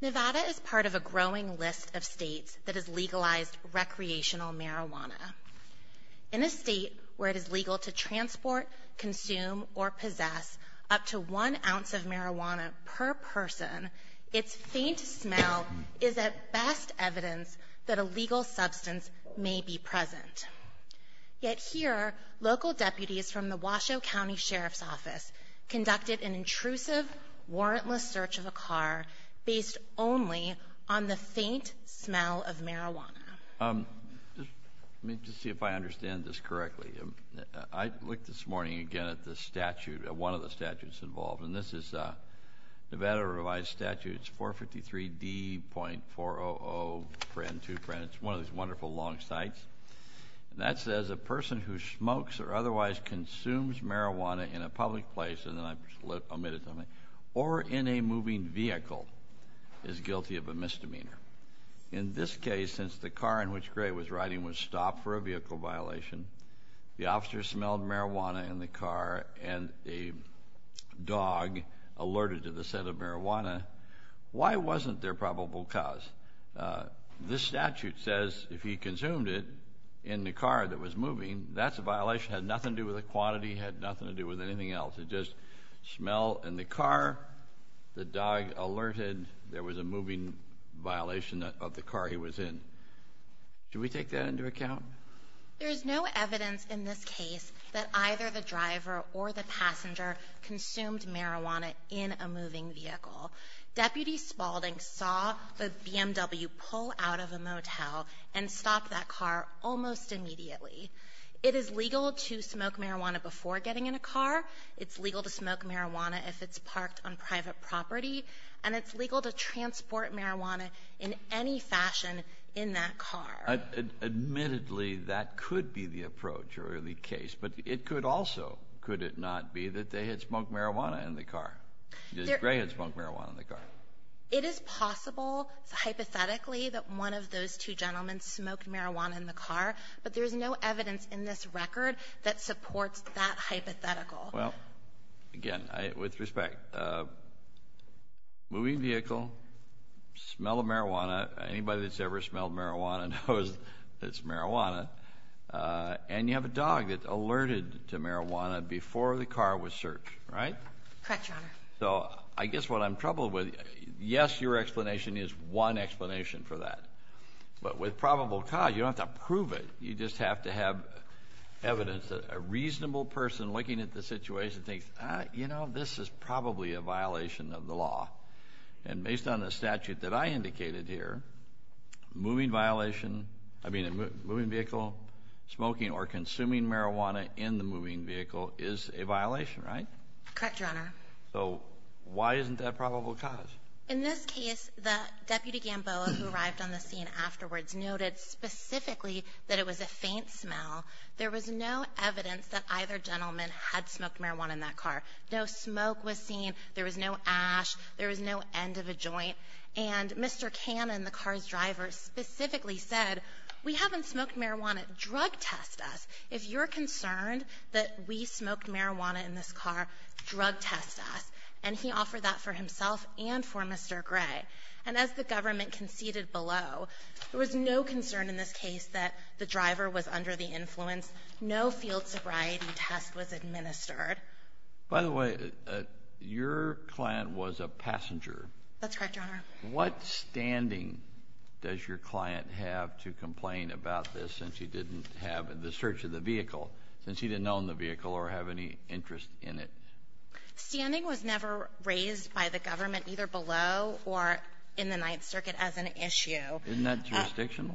Nevada is part of a growing list of states that has legalized recreational marijuana. In a state where it is legal to transport, consume, or possess up to one ounce of marijuana per person, its faint smell is, at best, evidence that a legal substance may be present. Yet here, local deputies from the Washoe County Sheriff's Office conducted an intrusive, warrantless search of a car based only on the faint smell of marijuana. Let me just see if I understand this correctly. I looked this morning again at the statute, one of the statutes involved, and this is Nevada Revised Statute 453D.4002, it's one of these wonderful long cites, and that says a person who smokes or otherwise consumes marijuana in a public place, or in a moving vehicle, is guilty of a misdemeanor. In this case, since the car in which Gray was riding was stopped for a vehicle violation, the officer smelled marijuana in the car, and a dog alerted to the scent of marijuana, why wasn't there probable cause? This statute says if he consumed it in the car that was moving, that's a violation, had nothing to do with the quantity, had nothing to do with anything else. It just, smell in the car, the dog alerted, there was a moving violation of the car he was in. Should we take that into account? There's no evidence in this case that either the driver or the passenger consumed marijuana in a moving vehicle. Deputy Spaulding saw the BMW pull out of a motel and stop that car almost immediately. It is legal to smoke marijuana before getting in a car. It's legal to smoke marijuana if it's parked on private property. And it's legal to transport marijuana in any fashion in that car. Admittedly, that could be the approach or the case, but it could also, could it not be that they had smoked marijuana in the car, that Gray had smoked marijuana in the car? It is possible, hypothetically, that one of those two gentlemen smoked marijuana in the car, but there's no evidence in this record that supports that hypothetical. Well, again, with respect, moving vehicle, smell of marijuana, anybody that's ever smelled marijuana knows it's marijuana, and you have a dog that alerted to marijuana before the car was searched, right? Correct, Your Honor. So I guess what I'm troubled with, yes, your explanation is one explanation for that, but with probable cause, you don't have to prove it. You just have to have evidence that a reasonable person looking at the situation thinks, ah, you know, this is probably a violation of the law. And based on the statute that I indicated here, moving violation, I mean a moving vehicle, smoking or consuming marijuana in the moving vehicle is a violation, right? Correct, Your Honor. So why isn't that probable cause? In this case, the deputy Gamboa who arrived on the scene afterwards noted specifically that it was a faint smell. There was no evidence that either gentleman had smoked marijuana in that car. No smoke was seen. There was no ash. There was no end of a joint. And Mr. Cannon, the car's driver, specifically said, we haven't smoked marijuana. Drug test us. If you're concerned that we smoked marijuana in this car, drug test us. And he offered that for himself and for Mr. Gray. And as the government conceded below, there was no concern in this case that the driver was under the influence. No field sobriety test was administered. By the way, your client was a passenger. That's correct, Your Honor. What standing does your client have to complain about this since he didn't have the search of the vehicle, since he didn't own the vehicle or have any interest in it? Standing was never raised by the government, either below or in the Ninth Circuit, as an issue. Isn't that jurisdictional?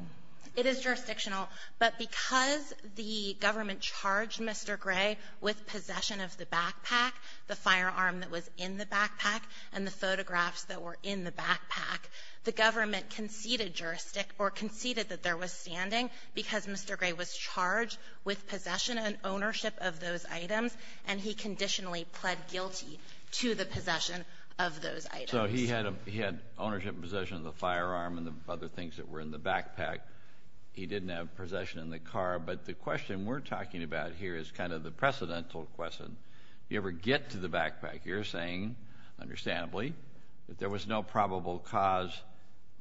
It is jurisdictional. But because the government charged Mr. Gray with possession of the backpack, the firearm that was in the backpack, and the photographs that were in the backpack, the government conceded juristic or conceded that there was standing because Mr. Gray had an ownership of those items, and he conditionally pled guilty to the possession of those items. So he had ownership and possession of the firearm and the other things that were in the backpack. He didn't have possession in the car. But the question we're talking about here is kind of the precedental question. If you ever get to the backpack, you're saying, understandably, that there was no probable cause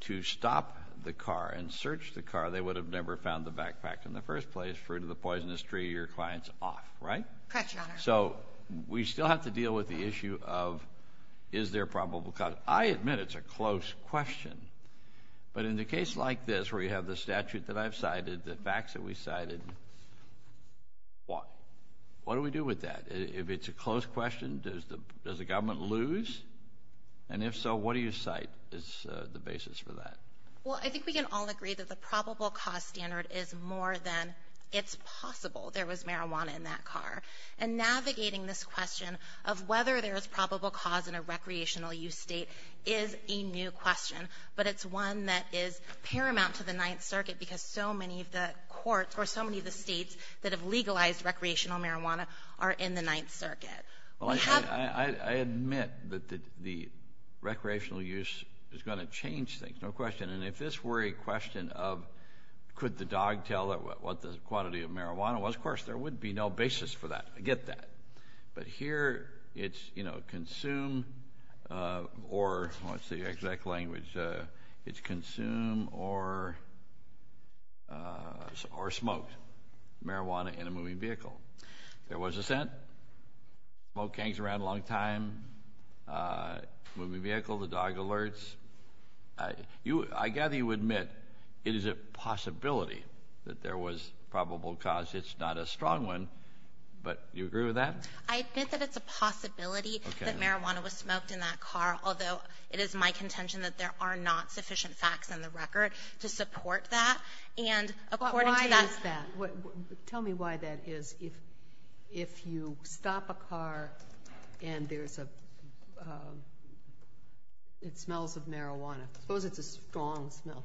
to stop the car and search the car. They would have never found the backpack in the first place. Fruit of the poisonous tree, your client's off, right? Correct, Your Honor. So we still have to deal with the issue of, is there a probable cause? I admit it's a close question. But in the case like this, where you have the statute that I've cited, the facts that we cited, what do we do with that? If it's a close question, does the government lose? And if so, what do you cite as the basis for that? Well, I think we can all agree that the probable cause standard is more than, it's possible there was marijuana in that car. And navigating this question of whether there is probable cause in a recreational use state is a new question. But it's one that is paramount to the Ninth Circuit because so many of the courts or so many of the states that have legalized recreational marijuana are in the Ninth Circuit. Well, I admit that the recreational use is going to change things. No question. And if this were a question of, could the dog tell what the quantity of marijuana was? Of course, there would be no basis for that. I get that. But here, it's, you know, consume or, what's the exact language? It's consume or smoke marijuana in a moving vehicle. There was a scent. Smoke hangs around a long time. Moving vehicle, the dog alerts. I gather you admit it is a possibility that there was probable cause. It's not a strong one. But you agree with that? I admit that it's a possibility that marijuana was smoked in that car, although it is my contention that there are not sufficient facts in the record to support that. And according to that- But why is that? Tell me why that is. If you stop a car and there's a, it smells of marijuana. Suppose it's a strong smell.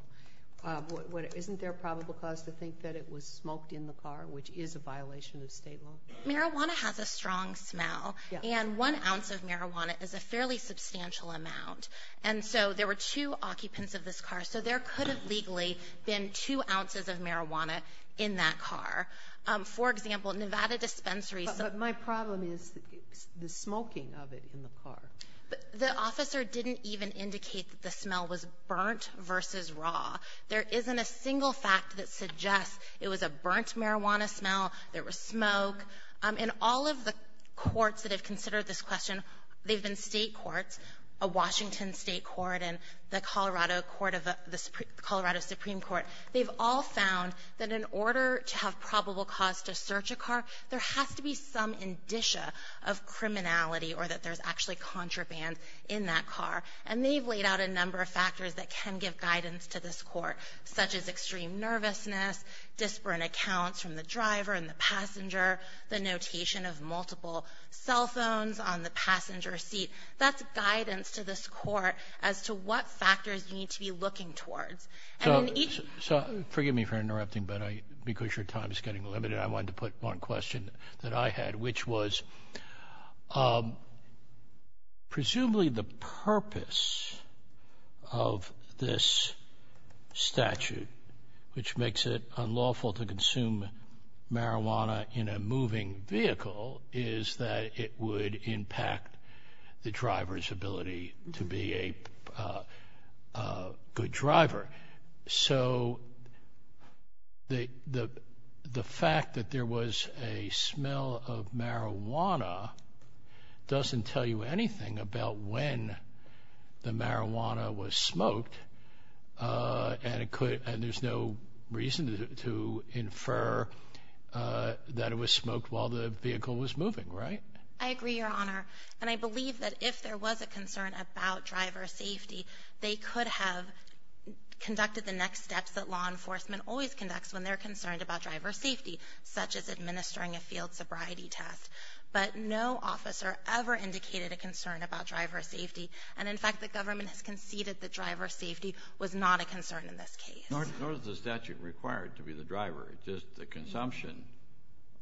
Isn't there a probable cause to think that it was smoked in the car, which is a violation of state law? Marijuana has a strong smell. And one ounce of marijuana is a fairly substantial amount. And so there were two occupants of this car. So there could have legally been two ounces of marijuana in that car. For example, Nevada Dispensary- But my problem is the smoking of it in the car. The officer didn't even indicate that the smell was burnt versus raw. There isn't a single fact that suggests it was a burnt marijuana smell, there was smoke. In all of the courts that have considered this question, they've been state courts, a Washington state court, and the Colorado Supreme Court, they've all found that in order to have probable cause to search a car, there has to be some indicia of criminality or that there's actually contraband in that car. And they've laid out a number of factors that can give guidance to this court, such as extreme nervousness, disparate accounts from the driver and the passenger, the notation of multiple cell phones on the passenger seat. That's guidance to this court as to what factors you need to be looking towards. And in each- So forgive me for interrupting, but I, because your time is getting limited, I wanted to put one question that I had, which was presumably the purpose of this statute, which makes it unlawful to consume marijuana in a moving vehicle, is that it would impact the driver's ability to be a good driver. So the fact that there was a smell of marijuana doesn't tell you anything about when the marijuana was smoked, and it could, and there's no reason to infer that it was smoked while the vehicle was moving, right? I agree, Your Honor, and I believe that if there was a concern about driver safety, they could have conducted the next steps that law enforcement always conducts when they're concerned about driver safety, such as administering a field sobriety test. But no officer ever indicated a concern about driver safety, and in fact, the government has conceded that driver safety was not a concern in this case. Nor is the statute required to be the driver, just the consumption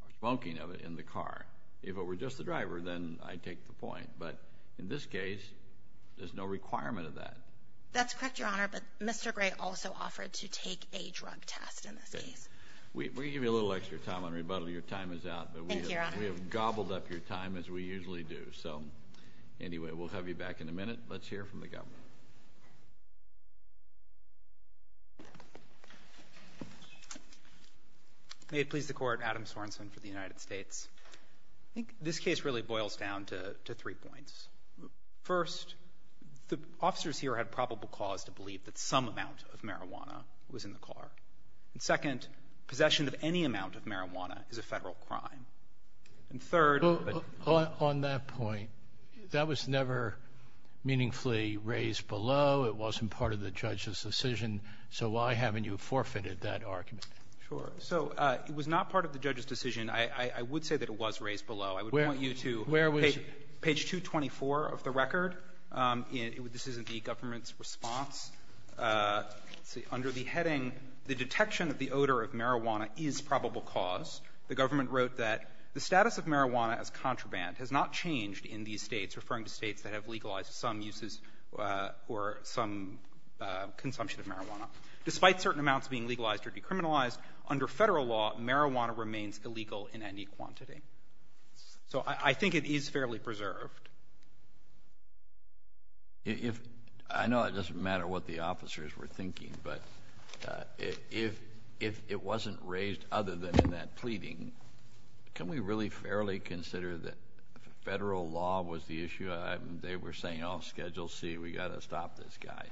or smoking of it in the car. If it were just the driver, then I'd take the point. But in this case, there's no requirement of that. That's correct, Your Honor, but Mr. Gray also offered to take a drug test in this case. We're going to give you a little extra time on rebuttal. Your time is out, but we have gobbled up your time, as we usually do. So anyway, we'll have you back in a minute. Let's hear from the government. May it please the Court, Adam Sorensen for the United States. I think this case really boils down to three points. First, the officers here had probable cause to believe that some amount of marijuana was in the car. And second, possession of any amount of marijuana is a Federal crime. And third — On that point, that was never meaningfully raised below. It wasn't part of the judge's decision. So why haven't you forfeited that argument? Sure. So it was not part of the judge's decision. I would say that it was raised below. I would point you to page 224 of the record. This isn't the government's response. Under the heading, the detection of the odor of marijuana is probable cause, the government wrote that the status of marijuana as contraband has not changed in these States, referring to States that have legalized some uses or some consumption of marijuana. Despite certain amounts being legalized or decriminalized, under Federal law, marijuana remains illegal in any quantity. So I think it is fairly preserved. If — I know it doesn't matter what the officers were thinking, but if it wasn't raised other than in that pleading, can we really fairly consider that Federal law was the issue? They were saying, oh, Schedule C, we've got to stop this guy.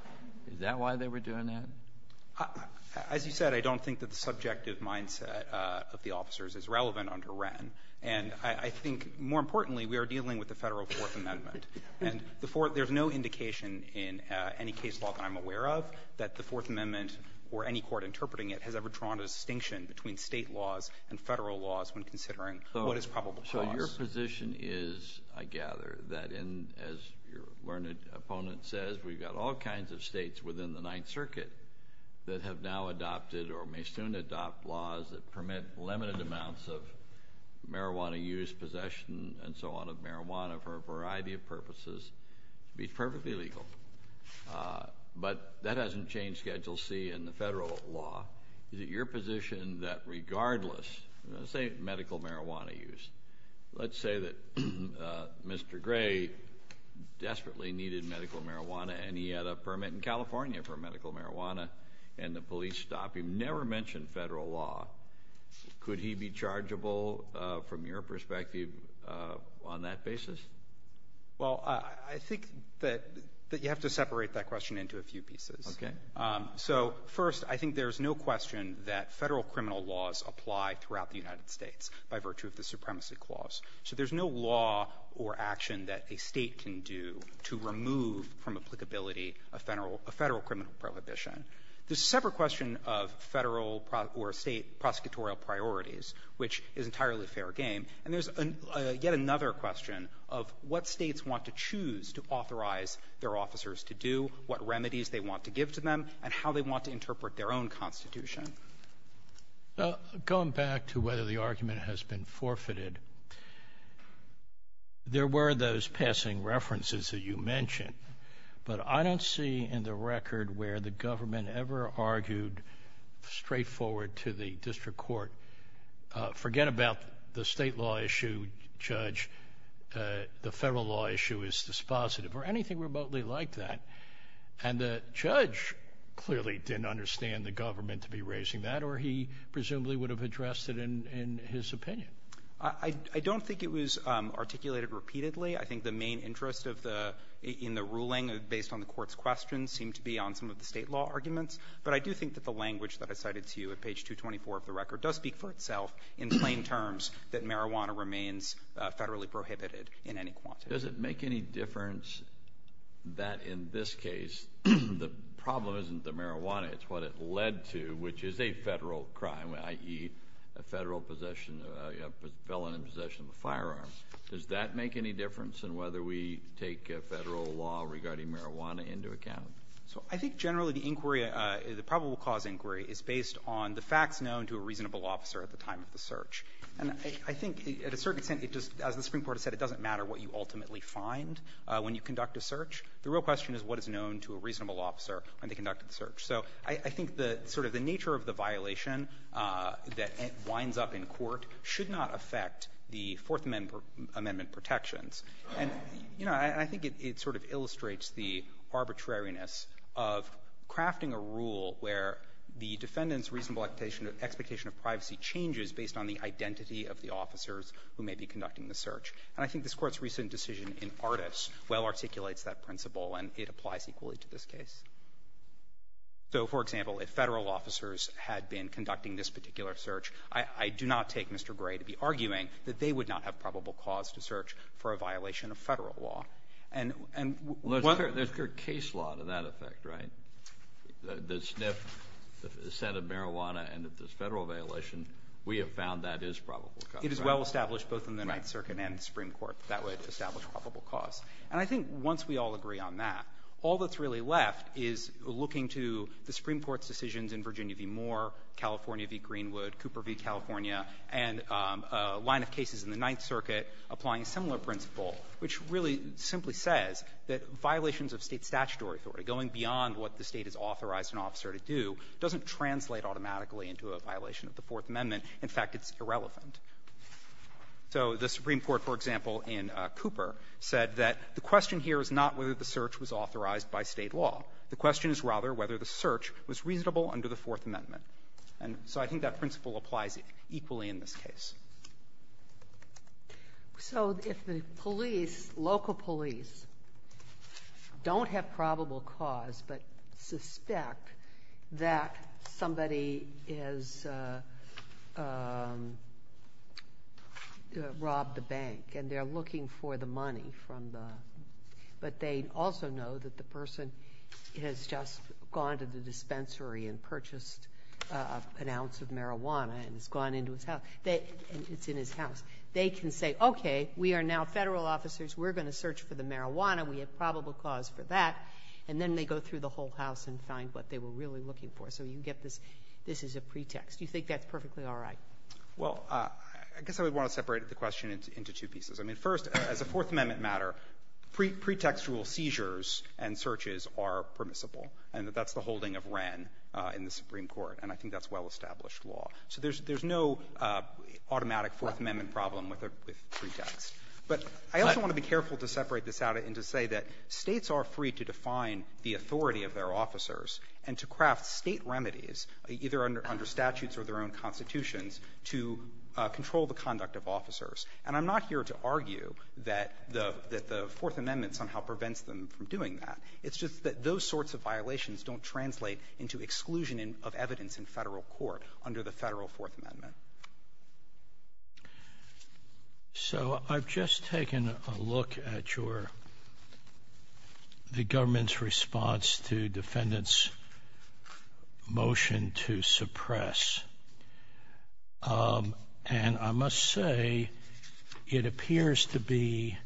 Is that why they were doing that? As you said, I don't think that the subjective mindset of the officers is relevant under Wren. And I think, more importantly, we are dealing with the Federal Fourth Amendment. And there's no indication in any case law that I'm aware of that the Fourth Amendment or any court interpreting it has ever drawn a distinction between State laws and Federal laws when considering what is probable cause. So your position is, I gather, that in — as your learned opponent says, we've got all kinds of States within the Ninth Circuit that have now adopted or may soon adopt laws that permit limited amounts of marijuana use, possession, and so on of marijuana for a variety of purposes to be perfectly legal. But that hasn't changed Schedule C and the Federal law. Is it your position that regardless — let's say medical marijuana use. Let's say that Mr. Gray desperately needed medical marijuana and he had a permit in California for medical marijuana and the police stopped him. Never mentioned Federal law. Could he be chargeable, from your perspective, on that basis? Well, I think that you have to separate that question into a few pieces. Okay. So, first, I think there's no question that Federal criminal laws apply throughout the United States by virtue of the Supremacy Clause. So there's no law or action that a State can do to remove from applicability a Federal criminal prohibition. There's a separate question of Federal or State prosecutorial priorities, which is entirely fair game. And there's yet another question of what States want to choose to authorize their own Constitution. Going back to whether the argument has been forfeited, there were those passing references that you mentioned, but I don't see in the record where the government ever argued straightforward to the district court, forget about the State law issue, Judge, the Federal law issue is dispositive, or anything remotely like that. And the judge clearly didn't understand the government to be raising that, or he presumably would have addressed it in his opinion. I don't think it was articulated repeatedly. I think the main interest of the — in the ruling, based on the Court's questions, seemed to be on some of the State law arguments. But I do think that the language that I cited to you at page 224 of the record does speak for itself in plain terms that marijuana remains Federally prohibited in any quantity. Does it make any difference that in this case, the problem isn't the marijuana, it's what it led to, which is a Federal crime, i.e., a Federal possession — a felon in possession of a firearm. Does that make any difference in whether we take Federal law regarding marijuana into account? So I think generally the inquiry — the probable cause inquiry is based on the facts known to a reasonable officer at the time of the search. And I think at a certain extent, it just — as the Supreme Court has said, it doesn't matter what you ultimately find when you conduct a search. The real question is what is known to a reasonable officer when they conduct the search. So I think the — sort of the nature of the violation that winds up in court should not affect the Fourth Amendment protections. And, you know, I think it sort of illustrates the arbitrariness of crafting a rule where the defendant's reasonable expectation of privacy changes based on the identity of the officers who may be conducting the search. And I think this Court's recent decision in Artis well articulates that principle, and it applies equally to this case. So, for example, if Federal officers had been conducting this particular search, I do not take Mr. Gray to be arguing that they would not have probable cause to search for a violation of Federal law. And whether — Kennedy, there's clear case law to that effect, right? The sniff, the scent of marijuana, and if there's Federal violation, we have found that is probable cause. It is well-established both in the Ninth Circuit and the Supreme Court that would establish probable cause. And I think once we all agree on that, all that's really left is looking to the Supreme Court's decisions in Virginia v. Moore, California v. Greenwood, Cooper v. California, and a line of cases in the Ninth Circuit applying a similar principle, which really simply says that violations of State statutory authority, going beyond what the State has authorized an officer to do, doesn't translate automatically into a violation of the Fourth Amendment. In fact, it's irrelevant. So the Supreme Court, for example, in Cooper said that the question here is not whether the search was authorized by State law. The question is rather whether the search was reasonable under the Fourth Amendment. And so I think that principle applies equally in this case. So if the police, local police, don't have probable cause but suspect that somebody has robbed the bank and they're looking for the money from the, but they also know that the person has just gone to the dispensary and purchased an ounce of marijuana and has gone into his house, it's in his house, they can say, okay, we are now Federal officers. We're going to search for the marijuana. We have probable cause for that. And then they go through the whole house and find what they were really looking for. So you get this. This is a pretext. You think that's perfectly all right? Well, I guess I would want to separate the question into two pieces. I mean, first, as a Fourth Amendment matter, pretextual seizures and searches are permissible, and that's the holding of Wren in the Supreme Court. And I think that's well-established law. So there's no automatic Fourth Amendment problem with pretext. But I also want to be careful to separate this out and to say that States are free to define the authority of their officers and to craft State remedies, either under statutes or their own constitutions, to control the conduct of officers. And I'm not here to argue that the Fourth Amendment somehow prevents them from doing that. It's just that those sorts of violations don't translate into exclusion of evidence in federal court under the federal Fourth Amendment. So I've just taken a look at your the government's response to defendant's motion to suppress. And I must say, it appears to be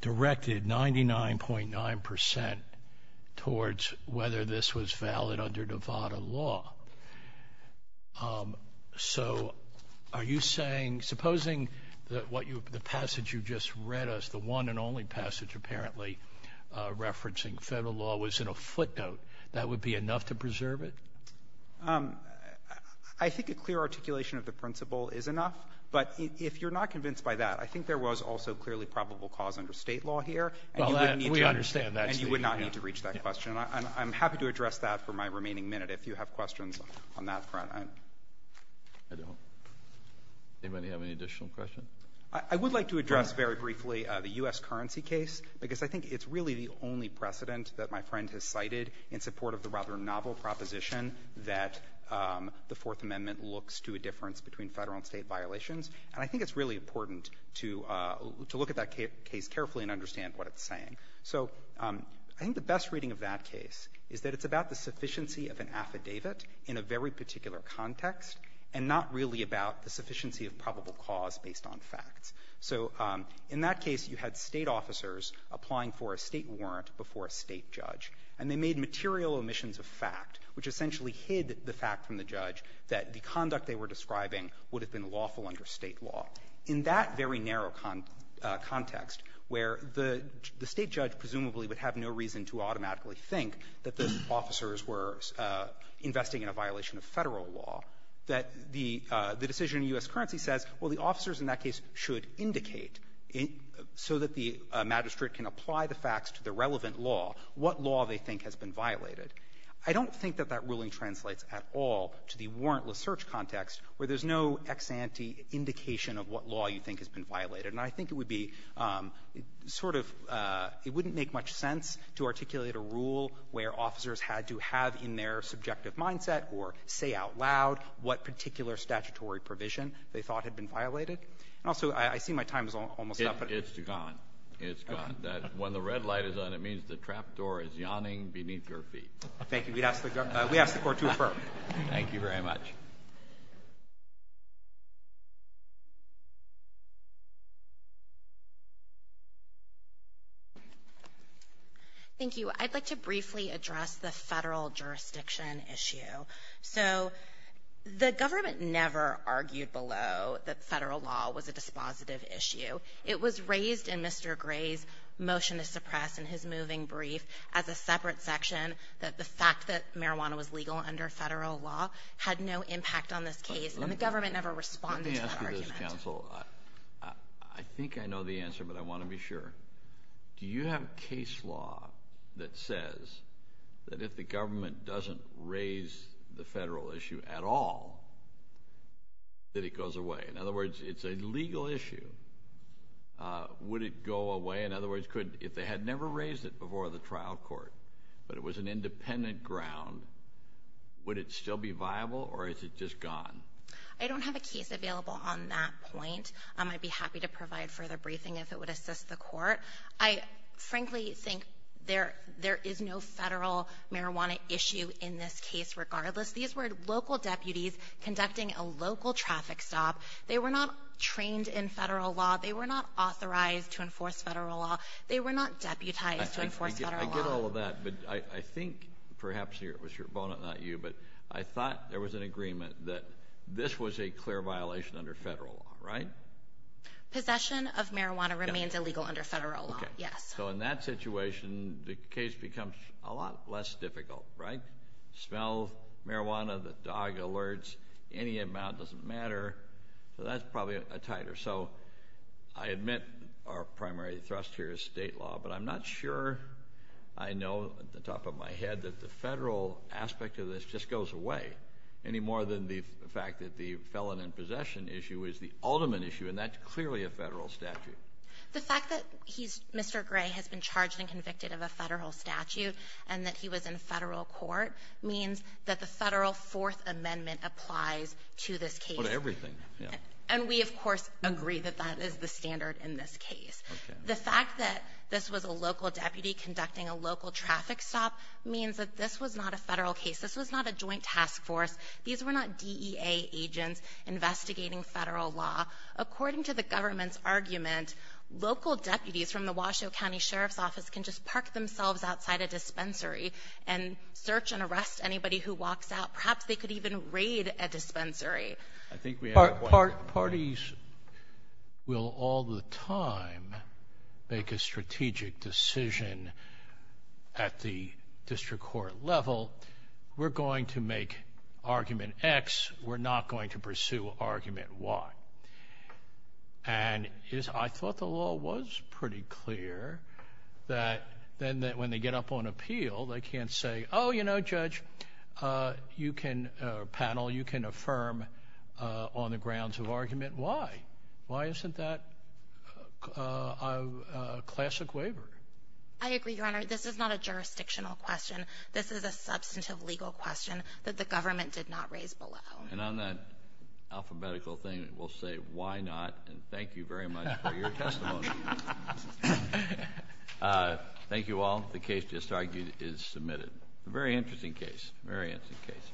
directed 99.9 percent towards whether this was valid under Nevada law. So are you saying, supposing that what you the passage you just read us, the one and only passage apparently referencing federal law, was in a footnote, that would be enough to preserve it? I think a clear articulation of the principle is enough. But if you're not convinced by that, I think there was also clearly probable cause under State law here, and you would not need to reach that question. And I'm happy to address that for my remaining minute. If you have questions on that front, I'm — I don't. Anybody have any additional questions? I would like to address very briefly the U.S. currency case, because I think it's really the only precedent that my friend has cited in support of the rather novel proposition that the Fourth Amendment looks to a difference between Federal and State violations. And I think it's really important to look at that case carefully and understand what it's saying. So I think the best reading of that case is that it's about the sufficiency of an affidavit in a very particular context and not really about the sufficiency of probable cause based on facts. So in that case, you had State officers applying for a State warrant before a State judge, and they made material omissions of fact, which essentially hid the fact from the judge that the conduct they were describing would have been lawful under State law. In that very narrow context where the State judge presumably would have no reason to automatically think that those officers were investing in a violation of Federal law, that the decision in U.S. currency says, well, the officers in that case should indicate so that the magistrate can apply the facts to the relevant law what law they think has been violated. I don't think that that ruling translates at all to the warrantless search context where there's no ex ante indication of what law you think has been violated. And I think it would be sort of — it wouldn't make much sense to articulate a rule where officers had to have in their subjective mindset or say out loud what particular statutory provision they thought had been violated. And also, I see my time is almost up, but — Kennedy, it's gone. It's gone. When the red light is on, it means the trapdoor is yawning beneath your feet. Thank you. We'd ask the Court to affirm. Thank you very much. Thank you. I'd like to briefly address the Federal jurisdiction issue. So the government never argued below that Federal law was a dispositive issue. It was raised in Mr. Gray's motion to suppress in his moving brief as a separate section that the fact that marijuana was legal under Federal law had no impact on this case, and the government never responded to that argument. Let me ask you this, counsel. I think I know the answer, but I want to be sure. Do you have case law that says that if the government doesn't raise the Federal issue at all, that it goes away? In other words, it's a legal issue. Would it go away? In other words, could — if they had never raised it before the trial court, but it was an independent ground, would it still be viable, or is it just gone? I don't have a case available on that point. I'd be happy to provide further briefing if it would assist the Court. I frankly think there is no Federal marijuana issue in this case regardless. These were local deputies conducting a local traffic stop. They were not trained in Federal law. They were not authorized to enforce Federal law. They were not deputized to enforce Federal law. I get all of that, but I think perhaps it was your opponent, not you, but I thought there was an agreement that this was a clear violation under Federal law, right? Possession of marijuana remains illegal under Federal law, yes. So in that situation, the case becomes a lot less difficult, right? Smell, marijuana, the dog alerts, any amount doesn't matter. So that's probably a tighter. So I admit our primary thrust here is State law, but I'm not sure I know at the top of my head that the Federal aspect of this just goes away any more than the fact that the felon in possession issue is the ultimate issue, and that's clearly a Federal statute. The fact that he's Mr. Gray has been charged and convicted of a Federal statute and that he was in Federal court means that the Federal Fourth Amendment applies to this case. Well, to everything. And we, of course, agree that that is the standard in this case. The fact that this was a local deputy conducting a local traffic stop means that this was not a Federal case. This was not a joint task force. These were not DEA agents investigating Federal law. According to the government's argument, local deputies from the Washoe County Sheriff's Office can just park themselves outside a dispensary and search and arrest anybody who walks out. Perhaps they could even raid a dispensary. I think we have one more. Parties will all the time make a strategic decision at the district court level. We're going to make argument X. We're not going to pursue argument Y. And I thought the law was pretty clear that then when they get up on appeal, they on the grounds of argument Y. Why isn't that a classic waiver? I agree, Your Honor. This is not a jurisdictional question. This is a substantive legal question that the government did not raise below. And on that alphabetical thing, we'll say why not, and thank you very much for your testimony. Thank you all. The case just argued is submitted. A very interesting case. A very interesting case.